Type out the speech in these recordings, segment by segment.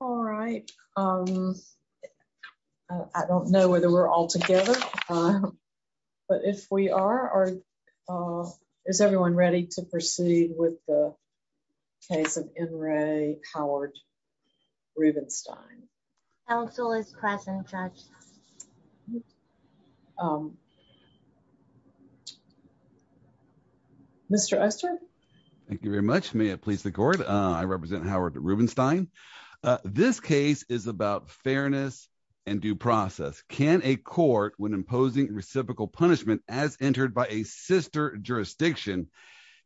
All right. I don't know whether we're all together. But if we are, is everyone ready to proceed with the case of N. Ray Howard Rubinstein? Council is present, Judge. Mr. Oster. Thank you very much. May it please the court. I represent Howard Rubinstein. This case is about fairness and due process. Can a court, when imposing reciprocal punishment as entered by a sister jurisdiction,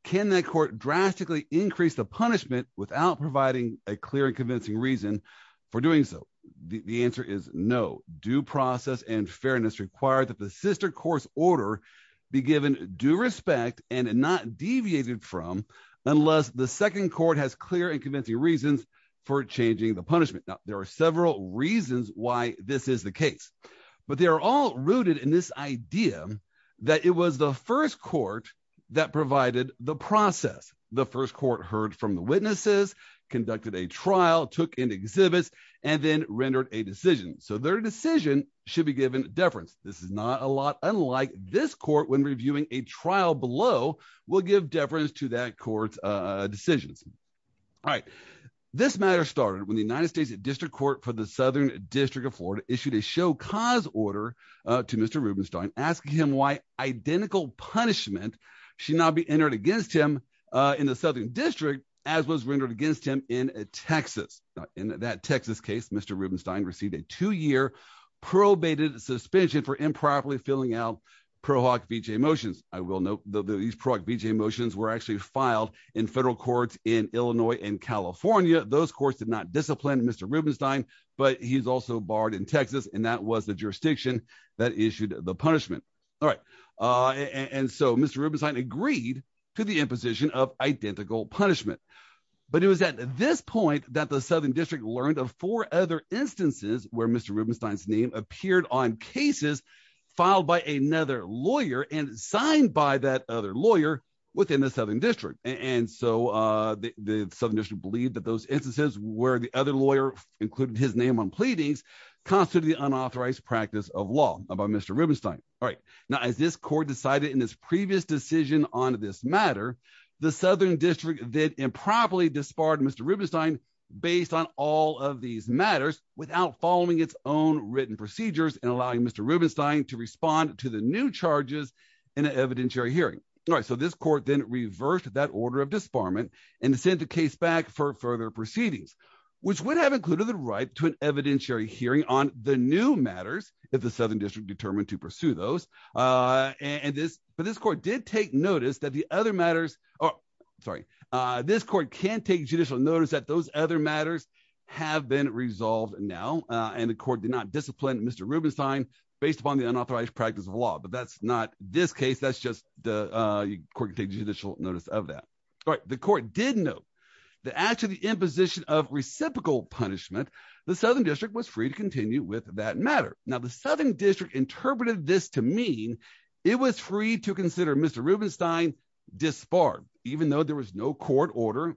can that court drastically increase the punishment without providing a clear and convincing reason for doing so? The answer is no. Due process and fairness require that the sister court's order be given due respect and not deviated from unless the are several reasons why this is the case. But they are all rooted in this idea that it was the first court that provided the process. The first court heard from the witnesses, conducted a trial, took in exhibits, and then rendered a decision. So their decision should be given deference. This is not a lot unlike this court when reviewing a trial below will give deference to that court's decisions. All right. This matter started when the United States District Court for the Southern District of Florida issued a show cause order to Mr. Rubinstein asking him why identical punishment should not be entered against him in the Southern District as was rendered against him in Texas. In that Texas case, Mr. Rubinstein received a two-year probated suspension for improperly filling out ProHoc VJ motions. I will note that these ProHoc VJ motions were actually filed in federal courts in Illinois and California. Those courts did not discipline Mr. Rubinstein, but he's also barred in Texas and that was the jurisdiction that issued the punishment. All right. And so Mr. Rubinstein agreed to the imposition of identical punishment. But it was at this point that the Southern District learned of four other instances where Mr. Rubinstein's name appeared on cases filed by another lawyer and signed by that other lawyer within the Southern District. And so the Southern District believed that those instances where the other lawyer included his name on pleadings constitute the unauthorized practice of law about Mr. Rubinstein. All right. Now, as this court decided in this previous decision on this matter, the Southern District then improperly disbarred Mr. Rubinstein based on all of these matters without following its own written procedures and allowing Mr. Rubinstein to respond to the new charges in an evidentiary hearing. All right. So this court then reversed that order of disbarment and sent the case back for further proceedings, which would have included the right to an evidentiary hearing on the new matters if the Southern District determined to pursue those. But this court did take notice that the other matters, sorry, this court can take judicial notice that those other matters have been resolved now. And the court did not discipline Mr. Rubinstein based upon the unauthorized practice of law. But that's not this case, that's just the court can take judicial notice of that. All right. The court did note that after the imposition of reciprocal punishment, the Southern District was free to continue with that matter. Now, the Southern District interpreted this to mean it was free to consider Mr. Rubinstein disbarred, even though there was no court order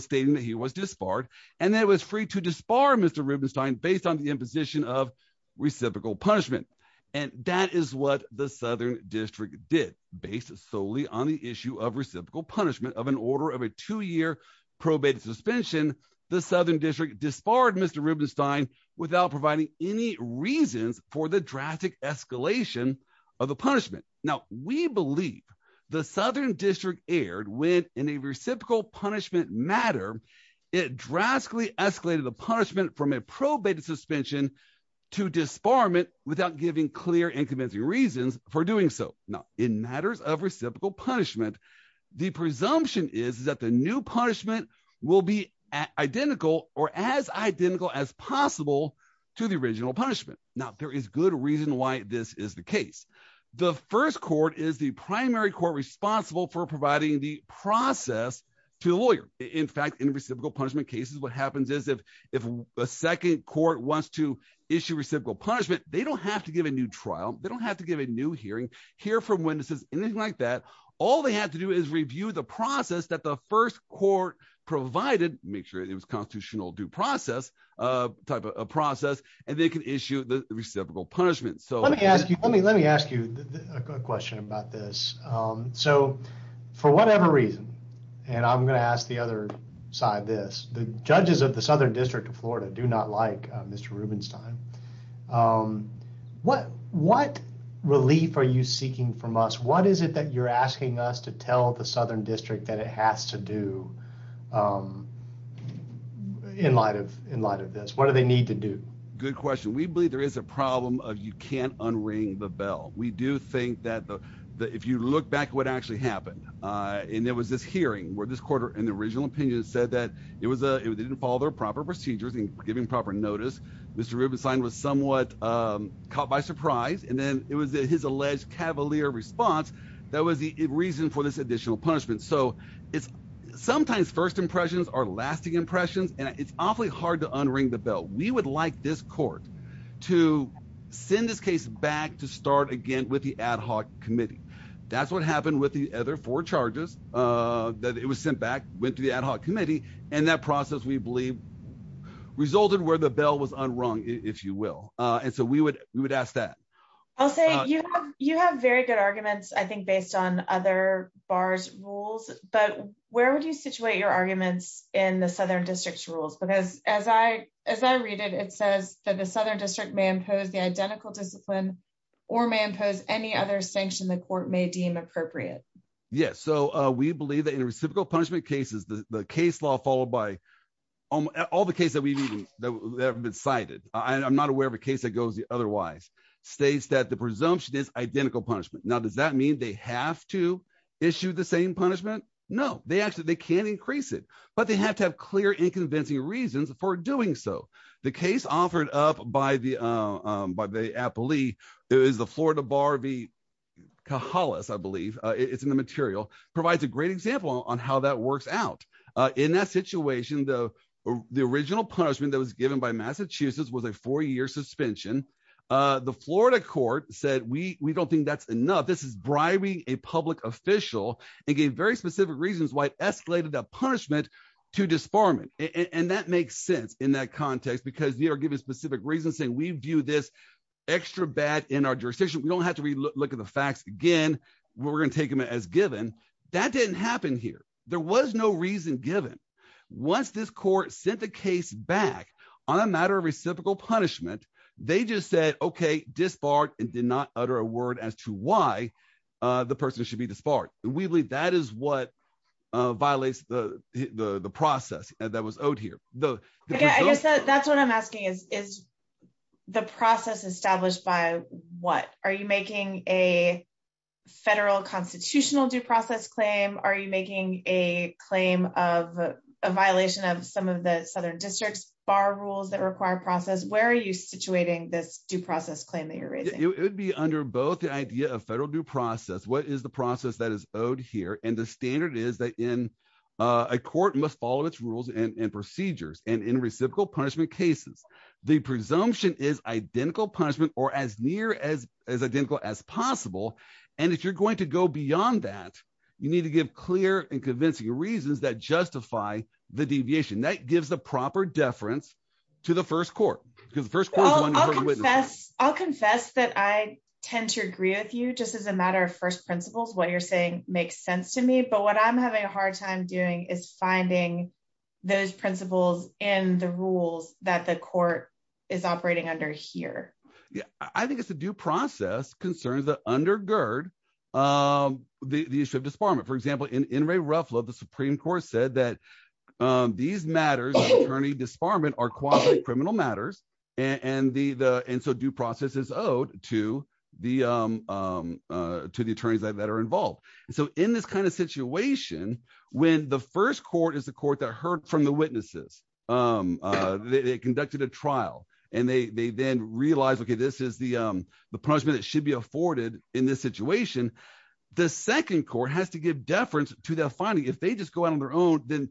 stating that he was disbarred and that it was free to disbar Mr. Rubinstein based on the imposition of reciprocal punishment. And that is what the Southern District did based solely on the issue of reciprocal punishment of an order of a two-year probate suspension. The Southern District disbarred Mr. Rubinstein without providing any reasons for the drastic escalation of the punishment. Now, we believe the Southern District erred when in a reciprocal punishment matter, it drastically escalated the punishment from a probated suspension to disbarment without giving clear and convincing reasons for doing so. Now, in matters of reciprocal punishment, the presumption is that the new punishment will be identical or as identical as possible to the original punishment. Now, there is good reason why this is the case. The first court is the primary court responsible for providing the process to a lawyer. In fact, in reciprocal punishment cases, what happens is if a second court wants to issue reciprocal punishment, they don't have to give a new trial. They don't have to give a new hearing, hear from witnesses, anything like that. All they have to do is provide it, make sure it was constitutional due process type of process, and they can issue the reciprocal punishment. Let me ask you a question about this. For whatever reason, and I'm going to ask the other side this, the judges of the Southern District of Florida do not like Mr. Rubinstein. What relief are you seeking from us? What is it that you're asking us to tell the Southern District that it has to do in light of this? What do they need to do? Good question. We believe there is a problem of you can't unring the bell. We do think that if you look back at what actually happened, and there was this hearing where this court in the original opinion said that they didn't follow their proper procedures in giving proper notice. Mr. Rubinstein was somewhat caught by surprise, and then it was his alleged cavalier response that was the reason for this additional punishment. So sometimes first impressions are lasting impressions, and it's awfully hard to unring the bell. We would like this court to send this case back to start again with the ad hoc committee. That's what happened with the other four charges that it was sent back, went to the ad hoc committee, and that process we believe resulted where the bell was unrung, if you will. And so we would ask that. I'll say you have very good arguments, I think, based on other bars rules, but where would you situate your arguments in the Southern District's rules? Because as I read it, it says that the Southern District may impose the identical discipline or may impose any other sanction the court may deem appropriate. Yes. So we believe that in reciprocal punishment cases, the case law followed by all the cases that have been cited. I'm not aware of a case that goes otherwise. States that the presumption is identical punishment. Now, does that mean they have to issue the same punishment? No, they can't increase it, but they have to have clear and convincing reasons for doing so. The case offered up by the appellee is the Florida Bar v. Kahalas, I believe, it's in the material, provides a great example on how that works out. In that situation, the original punishment that was given by Massachusetts was a four-year suspension. The Florida court said, we don't think that's enough. This is bribing a public official and gave very specific reasons why it escalated that punishment to disbarment. And that makes sense in that context, because they are given specific reasons saying we view this extra bad in our jurisdiction. We don't have to look at the facts again, we're going to take them as given. That didn't happen here. There was no reason given. Once this court sent the case back on a matter of reciprocal punishment, they just said, okay, disbarred and did not utter a word as to why the person should be disbarred. And we believe that is what violates the process that was owed here. I guess that's what I'm asking, is the process established by what? Are you making a federal constitutional due process claim? Are you making a claim of a violation of some of the Southern districts bar rules that require process? Where are you situating this due process claim that you're raising? It would be under both the idea of federal due process. What is the process that is owed here? And the standard is that in a court must follow its rules and procedures and in reciprocal punishment cases, the presumption is identical punishment or as near as identical as possible. And if you're going to go beyond that, you need to give clear and convincing reasons that justify the deviation that gives the proper deference to the first court because the first court is one of the witnesses. I'll confess that I tend to agree with you just as a matter of first principles, what you're saying makes sense to me. But what I'm having a hard time doing is finding those principles and the rules that the court is operating under here. I think it's a due process concerns that undergird the issue of disbarment. For example, in in Ray Ruffalo, the Supreme Court said that these matters attorney disbarment are quasi criminal matters. And the and so due process is owed to the to the attorneys that are involved. So in this kind of situation, when the first court is the court that heard from the this is the punishment that should be afforded in this situation. The second court has to give deference to that. Finally, if they just go out on their own, then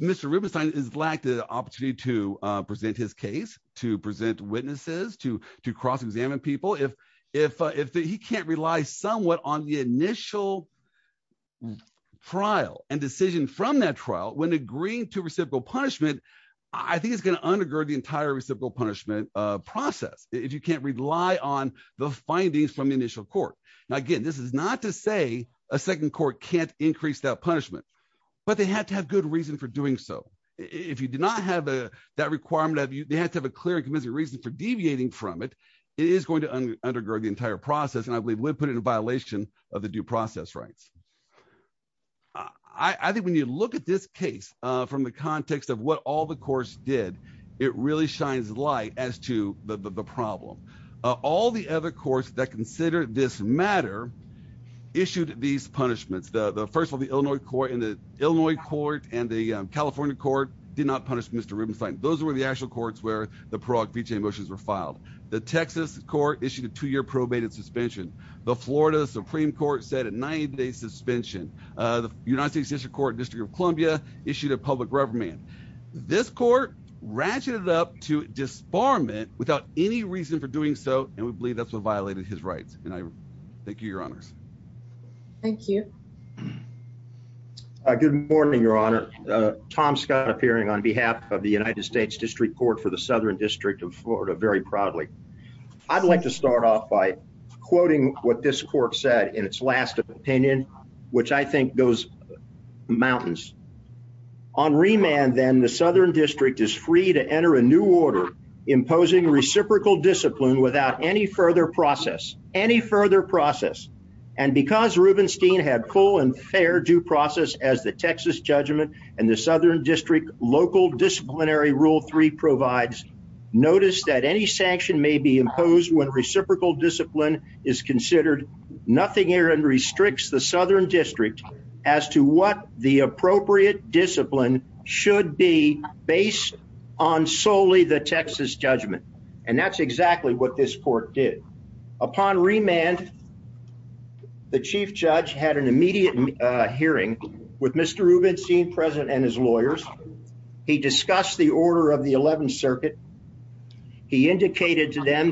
Mr. Rubenstein is lacked the opportunity to present his case to present witnesses to to cross examine people. If if if he can't rely somewhat on the initial trial and decision from that trial, when agreeing to reciprocal punishment, I think it's going to undergird the entire reciprocal punishment process if you can't rely on the findings from the initial court. Now, again, this is not to say a second court can't increase that punishment, but they have to have good reason for doing so. If you do not have that requirement of you, they have to have a clear and convincing reason for deviating from it. It is going to undergird the entire process. And I believe we put in a violation of the due process rights. I think when you look at this case from the context of what all the courts did, it really shines light as to the problem. All the other courts that consider this matter issued these punishments. The first of the Illinois court in the Illinois court and the California court did not punish Mr. Rubenstein. Those were the actual courts where the Prague VJ motions were filed. The Texas court issued a two year probated suspension. The Florida Supreme Court said a 90 day suspension. The United States District Court, District of Columbia issued a public rubber man. This court ratcheted up to disbarment without any reason for doing so, and we believe that's what violated his rights. And I thank you, your honors. Thank you. Good morning, your honor. Tom Scott appearing on behalf of the United States District Court for the Southern District of Florida. Very proudly. I'd like to start off by quoting what this court said in its last opinion, which I think goes mountains on remand. Then the Southern District is free to enter a new order imposing reciprocal discipline without any further process, any further process. And because Rubenstein had full and fair due process as the Texas judgment and the Southern District Local Disciplinary Rule three provides notice that any sanction may be imposed when reciprocal discipline is considered. Nothing here and restricts the Southern District as to what the appropriate discipline should be based on solely the Texas judgment. And that's exactly what this court did upon remand. The chief judge had an immediate hearing with Mr Rubenstein, President and his lawyers. He discussed the order of the 11th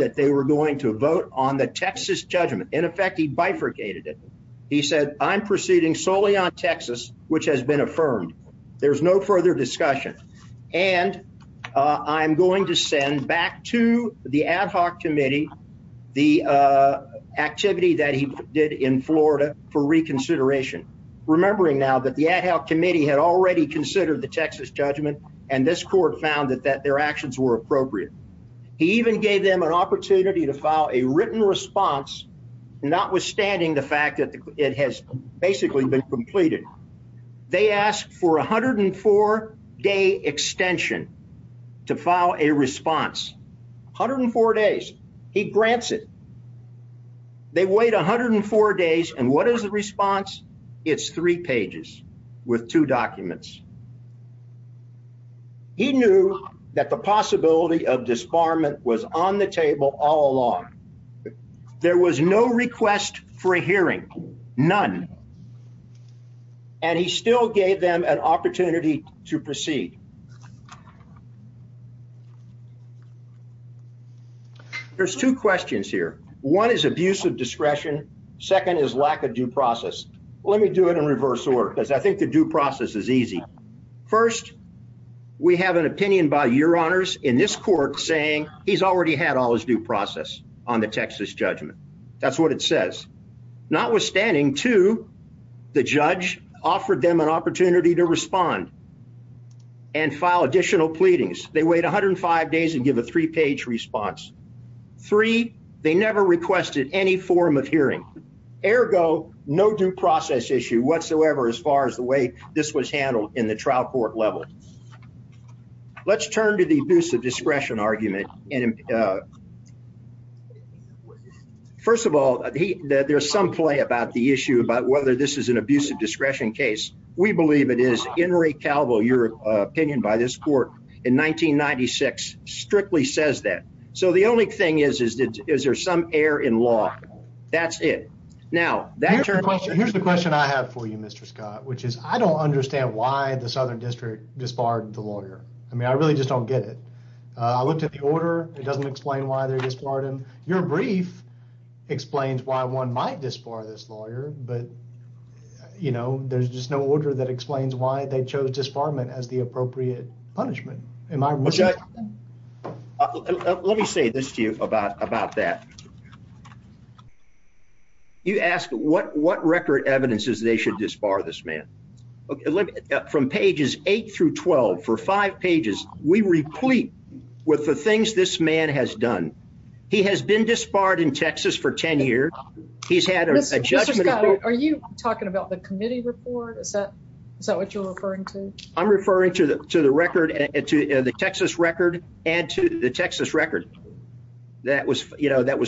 that they were going to vote on the Texas judgment. In effect, he bifurcated it. He said, I'm proceeding solely on Texas, which has been affirmed. There's no further discussion. And I'm going to send back to the ad hoc committee the activity that he did in Florida for reconsideration. Remembering now that the ad hoc committee had already considered the Texas judgment and this court found that their actions were appropriate. He even gave them an opportunity to file a written response, notwithstanding the fact that it has basically been completed. They asked for 104 day extension to file a response. 104 days. He grants it. They wait 104 days. And what is the response? It's three pages with two documents. He knew that the possibility of disbarment was on the table all along. There was no request for a hearing. None. And he still gave them an opportunity to proceed. There's two questions here. One is abuse of discretion. Second is lack of due process. Let me do it in reverse order, because I think the due process is easy. First, we have an opinion by your honors in this court saying he's already had all his due process on the Texas judgment. That's what it says. Notwithstanding, too, the judge offered them an opportunity to respond and file additional pleadings. They wait 105 days and give a three-page response. Three, they never requested any form of hearing. Ergo, no due process issue whatsoever as far as the way this was handled in the trial court level. Let's turn to the abuse of discretion argument. First of all, there's some play about the issue about whether this is an abuse of discretion. The only thing is, is there some error in law? That's it. Here's the question I have for you, Mr. Scott, which is I don't understand why the Southern District disbarred the lawyer. I really just don't get it. I looked at the order. It doesn't explain why they disbarred him. Your brief explains why one might disbar this lawyer, but there's just no order that explains why they chose disbarment as the appropriate punishment. Let me say this to you about that. You asked what record evidence is they should disbar this man. From pages 8 through 12 for five pages, we replete with the things this man has done. He has been disbarred in Texas for 10 years. He's had a judgment. Mr. Scott, are you talking about the committee report? Is that the Texas record? Add to the Texas record. That was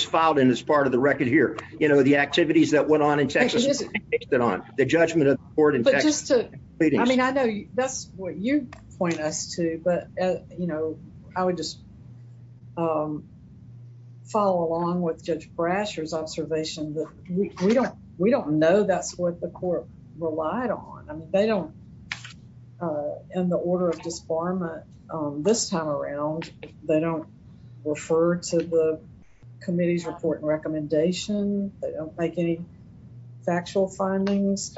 filed in as part of the record here. The activities that went on in Texas. The judgment of the court in Texas. I mean, I know that's what you point us to, but I would just follow along with Judge Brasher's observation that we don't know that's what the court relied on. I mean, they don't end the order of disbarment this time around. They don't refer to the committee's report and recommendation. They don't make any factual findings.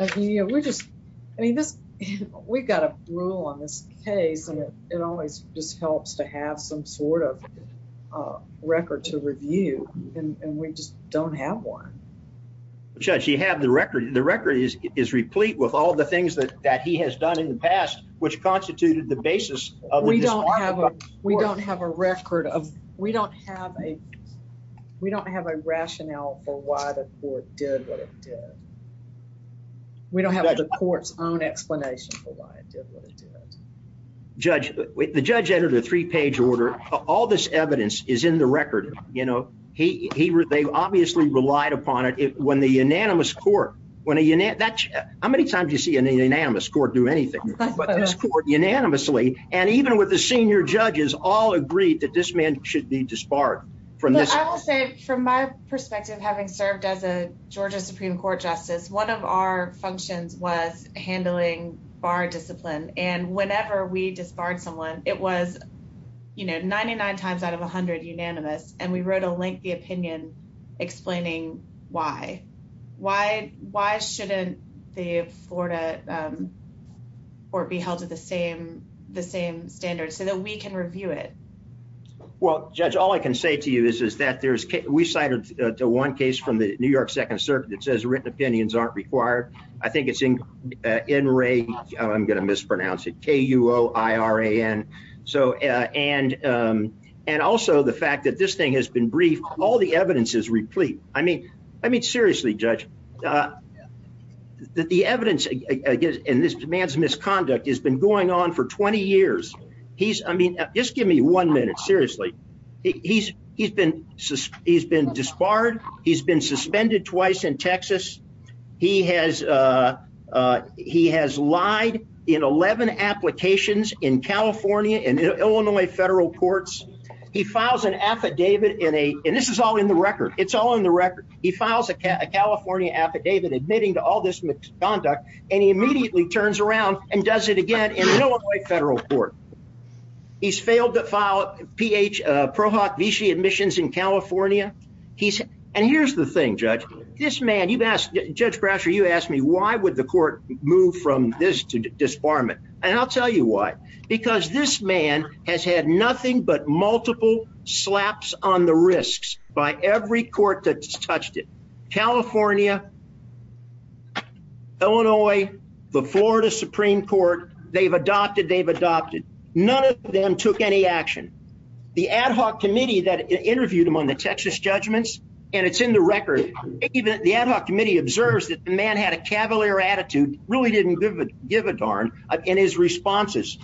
We've got a rule on this case, and it always just helps to have some sort of record to review, and we just don't have one. Judge, you have the record. The record is replete with all the things that he has done in the past, which constituted the basis of the disbarment. We don't have a record. We don't have a rationale for why the court did what it did. We don't have the court's own explanation for why it did what it did. Judge, the judge entered a three-page order. All this evidence is in the record. They obviously relied upon it. How many times do you see an unanimous court do anything, but this court unanimously, and even with the senior judges, all agreed that this man should be disbarred. I will say, from my perspective, having served as a Georgia Supreme Court justice, one of our functions was handling bar discipline, and whenever we unanimous, and we wrote a lengthy opinion explaining why. Why shouldn't the Florida court be held to the same standards so that we can review it? Well, Judge, all I can say to you is that we cited one case from the New York Second Circuit that says written opinions aren't required. I think it's K-U-O-I-R-A-N. Also, the fact that this thing has been briefed, all the evidence is replete. Seriously, Judge, the evidence against this man's misconduct has been going on for 20 years. Just give me one minute, seriously. He's been disbarred. He's been suspended twice in Texas. He has lied in 11 applications in California and Illinois federal courts. He files an affidavit, and this is all in the record. It's all in the record. He files a California affidavit admitting to all this misconduct, and he immediately turns around and does it again in an Illinois federal court. He's failed to file Ph. Prohoc Vichy admissions in California. Here's the thing, this man, Judge Brasher, you asked me why would the court move from this to disbarment, and I'll tell you why. Because this man has had nothing but multiple slaps on the risks by every court that's touched it. California, Illinois, the Florida Supreme Court, they've adopted, they've adopted. None of them took any action. The ad hoc committee that interviewed him in the Texas judgments, and it's in the record, the ad hoc committee observes that the man had a cavalier attitude, really didn't give a darn in his responses.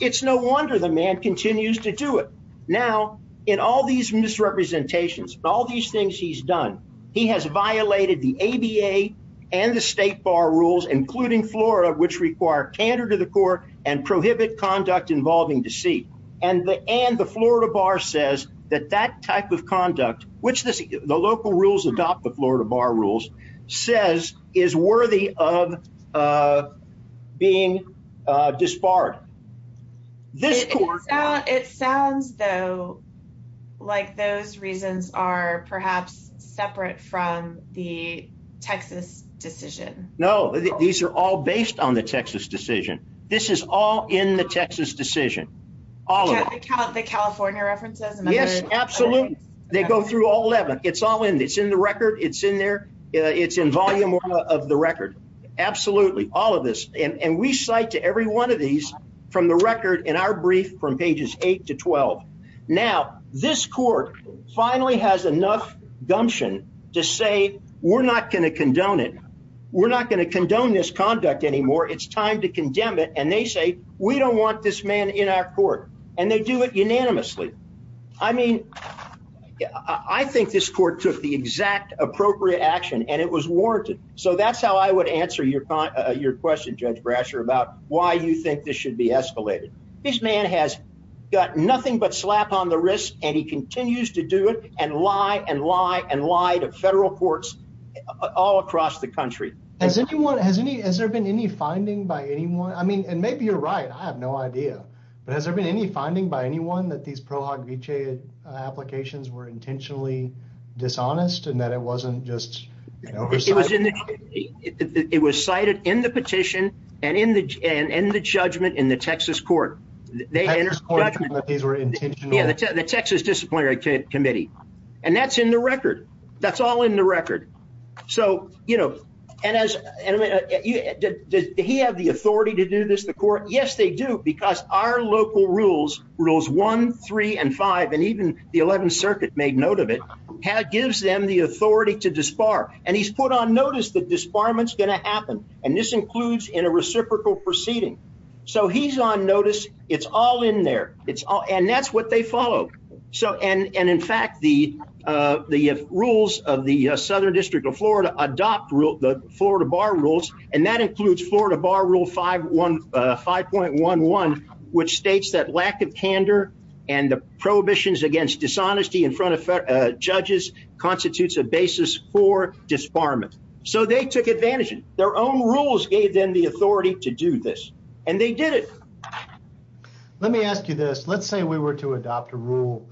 It's no wonder the man continues to do it. Now, in all these misrepresentations, all these things he's done, he has violated the ABA and the state bar rules, including Florida, which require candor to the court and prohibit conduct involving deceit. And the Florida bar says that that type of conduct, which the local rules adopt the Florida bar rules, says is worthy of being disbarred. It sounds though like those reasons are perhaps separate from the Texas decision. No, these are all based on the decision. All of the California references? Yes, absolutely. They go through all 11. It's all in. It's in the record. It's in there. It's in volume of the record. Absolutely. All of this. And we cite to every one of these from the record in our brief from pages 8 to 12. Now, this court finally has enough gumption to say, we're not going to condone it. We're not going to condone this this man in our court. And they do it unanimously. I mean, I think this court took the exact appropriate action and it was warranted. So that's how I would answer your question, Judge Brasher, about why you think this should be escalated. This man has got nothing but slap on the wrist, and he continues to do it and lie and lie and lie to federal courts all across the country. Has anyone, has any, has there been any finding by anyone? I mean, and maybe you're right. I have no idea. But has there been any finding by anyone that these ProHog v. Chay applications were intentionally dishonest and that it wasn't just, you know, it was cited in the petition and in the and in the judgment in the Texas court. They were intentional. Yeah, the Texas Disciplinary Committee. And that's in the record. That's all in the record. So, you know, and as, does he have the authority to do this, the court? Yes, they do. Because our local rules, Rules 1, 3, and 5, and even the 11th Circuit made note of it, gives them the authority to disbar. And he's put on notice that disbarment's going to happen. And this includes in a reciprocal proceeding. So he's on notice. It's all in there. It's all, and that's what they follow. So, and in fact, the rules of the Southern District of Florida adopt the Florida Bar Rules, and that includes Florida Bar Rule 5.11, which states that lack of candor and the prohibitions against dishonesty in front of judges constitutes a basis for disbarment. So they took advantage of it. Their own rules gave them the authority to do this, and they did it. Let me ask you this. Let's say we were to adopt a rule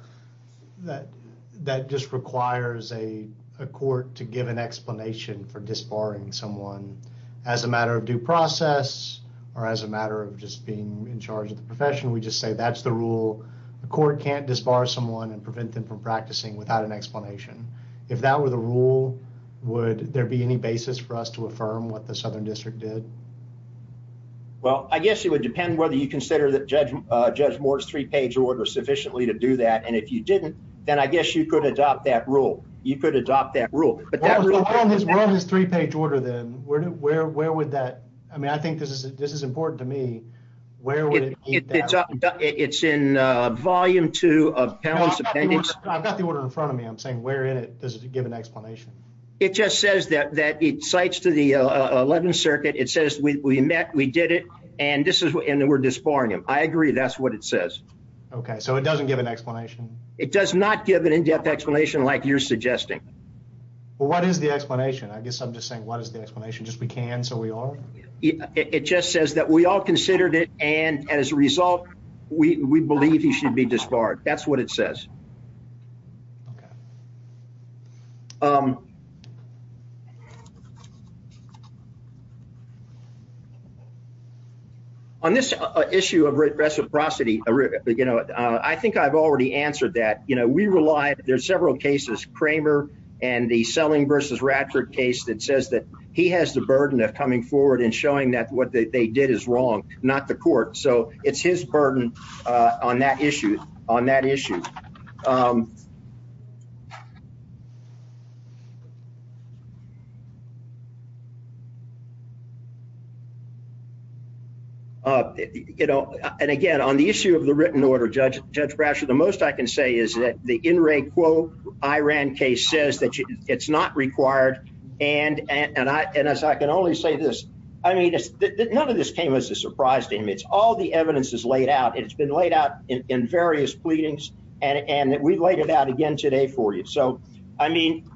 that just requires a court to give an explanation for disbarring someone as a matter of due process, or as a matter of just being in charge of the profession. We just say, that's the rule. The court can't disbar someone and prevent them from practicing without an explanation. If that were the rule, would there be any basis for us to affirm what the Southern District did? Well, I guess it would depend whether you consider that Judge Moore's three-page order sufficiently to do that. And if you didn't, then I guess you could adopt that rule. You could adopt that rule. But that rule- What on his three-page order then? Where would that, I mean, I think this is important to me. Where would it meet that? It's in volume two of Pound's appendix. I've got the order in front of me. I'm saying, where in it does it give an explanation? It just says that it cites to the 11th circuit. It says, we met, we did it, and we're disbarring him. I agree. That's what it says. Okay. So it doesn't give an explanation? It does not give an in-depth explanation like you're suggesting. Well, what is the explanation? I guess I'm just saying, what is the explanation? Just we all considered it. And as a result, we believe he should be disbarred. That's what it says. On this issue of reciprocity, I think I've already answered that. We rely, there's several cases, Kramer and the Selling v. Radford case that says that he has the burden of coming forward and not the court. So it's his burden on that issue. And again, on the issue of the written order, Judge Brasher, the most I can say is that the In Re Quo Iran case says that it's not required. And as I can only say this, I mean, none of this came as a surprise to him. It's all the evidence is laid out. It's been laid out in various pleadings. And we've laid it out again today for you. So, I mean,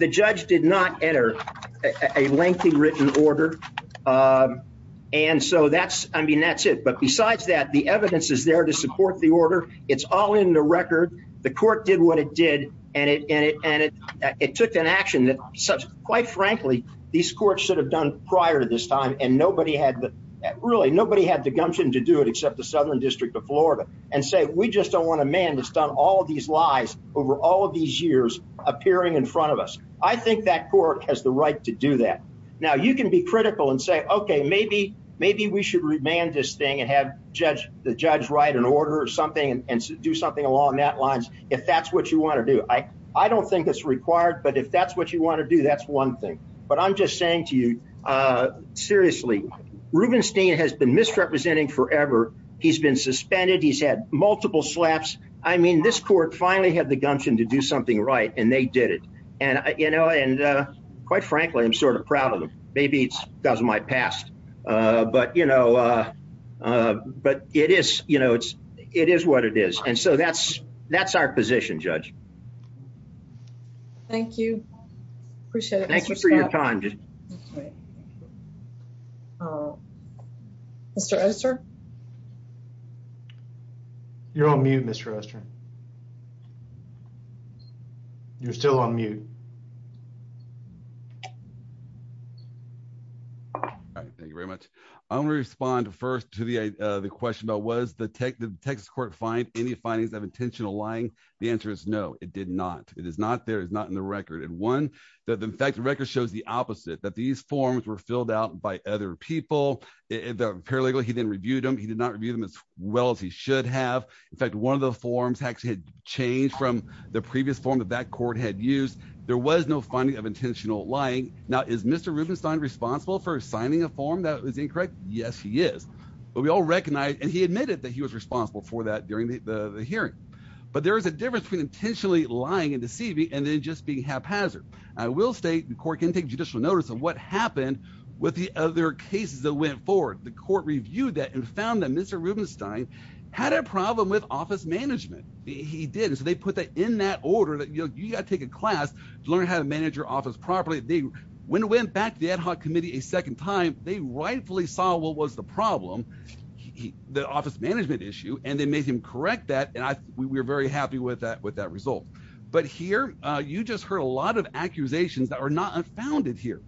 the judge did not enter a lengthy written order. And so that's, I mean, that's it. But besides that, the evidence is there to support the order. It's all in the record. The court did what it did. And it took an action that quite frankly, these courts should have done prior to this time. And nobody had the, really nobody had the gumption to do it except the Southern District of Florida and say, we just don't want a man that's done all of these lies over all of these years appearing in front of us. I think that court has the right to do that. Now you can be critical and say, okay, maybe we should remand this thing and have the judge write an order or something and do something along that lines if that's what you want to do. I don't think that's required, but if that's what you want to do, that's one thing. But I'm just saying to you, seriously, Rubenstein has been misrepresenting forever. He's been suspended. He's had multiple slaps. I mean, this court finally had the gumption to do something right and they did it. And it is what it is. And so that's, that's our position judge. Thank you. Appreciate it. Thank you for your time. Mr. Esser. You're on mute, Mr. Esser. You're still on mute. All right. Thank you very much. I'm going to respond first to the, uh, the question about was the Texas court find any findings of intentional lying? The answer is no, it did not. It is not there. It's not in the record. And one that in fact, the record shows the opposite, that these forms were filled out by other people, the paralegal, he didn't review them. He did not review them as well as he should have. In fact, one of the forms actually had changed from the intentional lying. Now is Mr. Rubenstein responsible for signing a form that was incorrect? Yes, he is. But we all recognize, and he admitted that he was responsible for that during the hearing. But there is a difference between intentionally lying and deceiving and then just being haphazard. I will state the court can take judicial notice of what happened with the other cases that went forward. The court reviewed that and found that Mr. Rubenstein had a problem with office management. He did. And so they put that in that order that, you know, take a class to learn how to manage your office properly. When it went back to the ad hoc committee a second time, they rightfully saw what was the problem, the office management issue, and they made him correct that. And we were very happy with that result. But here, you just heard a lot of accusations that are not unfounded here.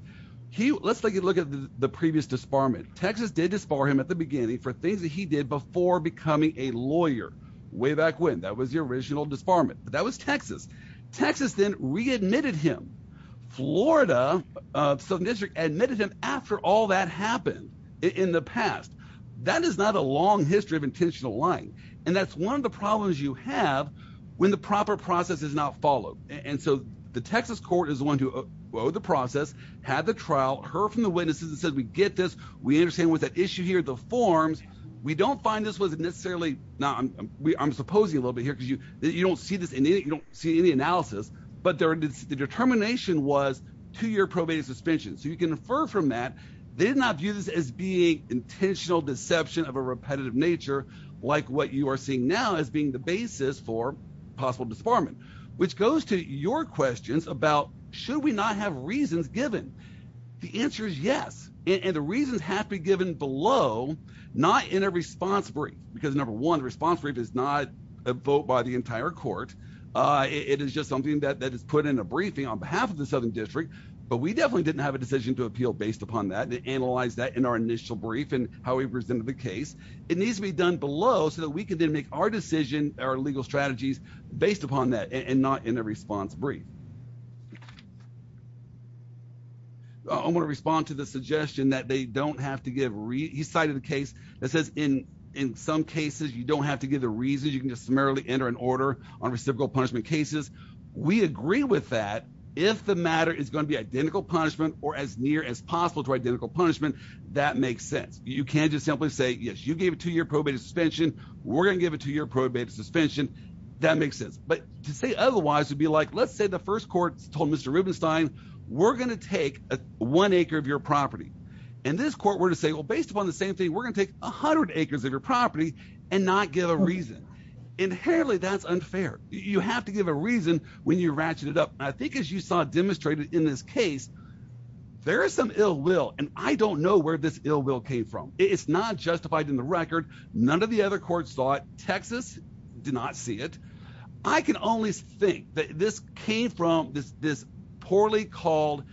Let's take a look at the previous disbarment. Texas did disbar him at the beginning for things that he did before becoming a lawyer, way back when. That was the original disbarment. That was Texas. Texas then readmitted him. Florida, the Southern District, admitted him after all that happened in the past. That is not a long history of intentional lying. And that's one of the problems you have when the proper process is not followed. And so the Texas court is the one to owe the process, had the trial, heard from the witnesses and said, we get this. We understand what's at issue here, the forms. We don't find this was necessarily, I'm supposing a little bit you don't see this in any, you don't see any analysis, but the determination was two-year probate suspension. So you can infer from that. They did not view this as being intentional deception of a repetitive nature, like what you are seeing now as being the basis for possible disbarment, which goes to your questions about, should we not have reasons given? The answer is yes. And the reasons have to be given below, not in a response brief, because number one, the response brief is not a vote by the entire court. It is just something that is put in a briefing on behalf of the Southern District, but we definitely didn't have a decision to appeal based upon that. They analyzed that in our initial brief and how we presented the case. It needs to be done below so that we can then make our decision, our legal strategies based upon that and not in a response brief. I'm going to respond to the suggestion that they don't have to give the reasons. You can just summarily enter an order on reciprocal punishment cases. We agree with that. If the matter is going to be identical punishment or as near as possible to identical punishment, that makes sense. You can't just simply say, yes, you gave a two-year probate suspension. We're going to give a two-year probate suspension. That makes sense. But to say otherwise would be like, let's say the first court told Mr. Rubenstein, we're going to take one acre of your property. And this court were to say, well, based upon the same thing, we're going to take a hundred acres of your property and not give a reason. Inherently, that's unfair. You have to give a reason when you ratchet it up. I think as you saw demonstrated in this case, there is some ill will, and I don't know where this ill will came from. It's not justified in the record. None of the other courts saw it. Texas did not see it. I can only think that this came from this poorly called,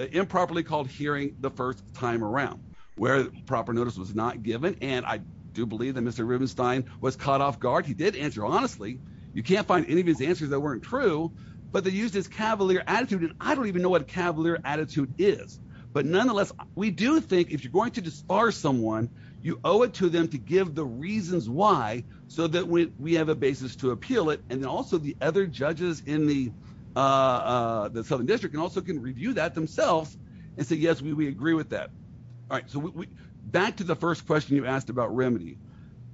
improperly called hearing the first time around, where proper notice was not given. And I do believe that Mr. Rubenstein was caught off guard. He did answer honestly. You can't find any of his answers that weren't true, but they used his cavalier attitude. And I don't even know what cavalier attitude is, but nonetheless, we do think if you're going to disbar someone, you owe it to them to give the reasons why, so that we have a basis to appeal it. Also, the other judges in the Southern District can also review that themselves and say, yes, we agree with that. Back to the first question you asked about remedy.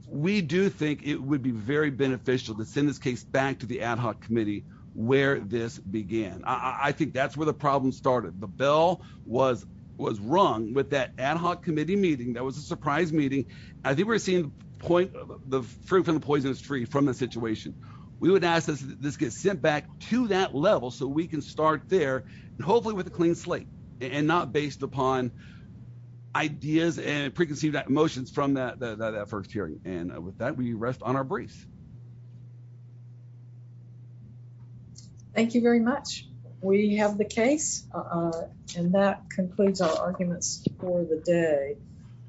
We do think it would be very beneficial to send this case back to the ad hoc committee where this began. I think that's where the problem started. The bell was rung with that ad hoc committee meeting. That was a surprise meeting. I think we're seeing the point of the fruit from the poisonous tree from the situation. We would ask that this gets sent back to that level so we can start there and hopefully with a clean slate and not based upon ideas and preconceived emotions from that first hearing. And with that, we rest on our briefs. Thank you very much. We have the case and that concludes our arguments for the day.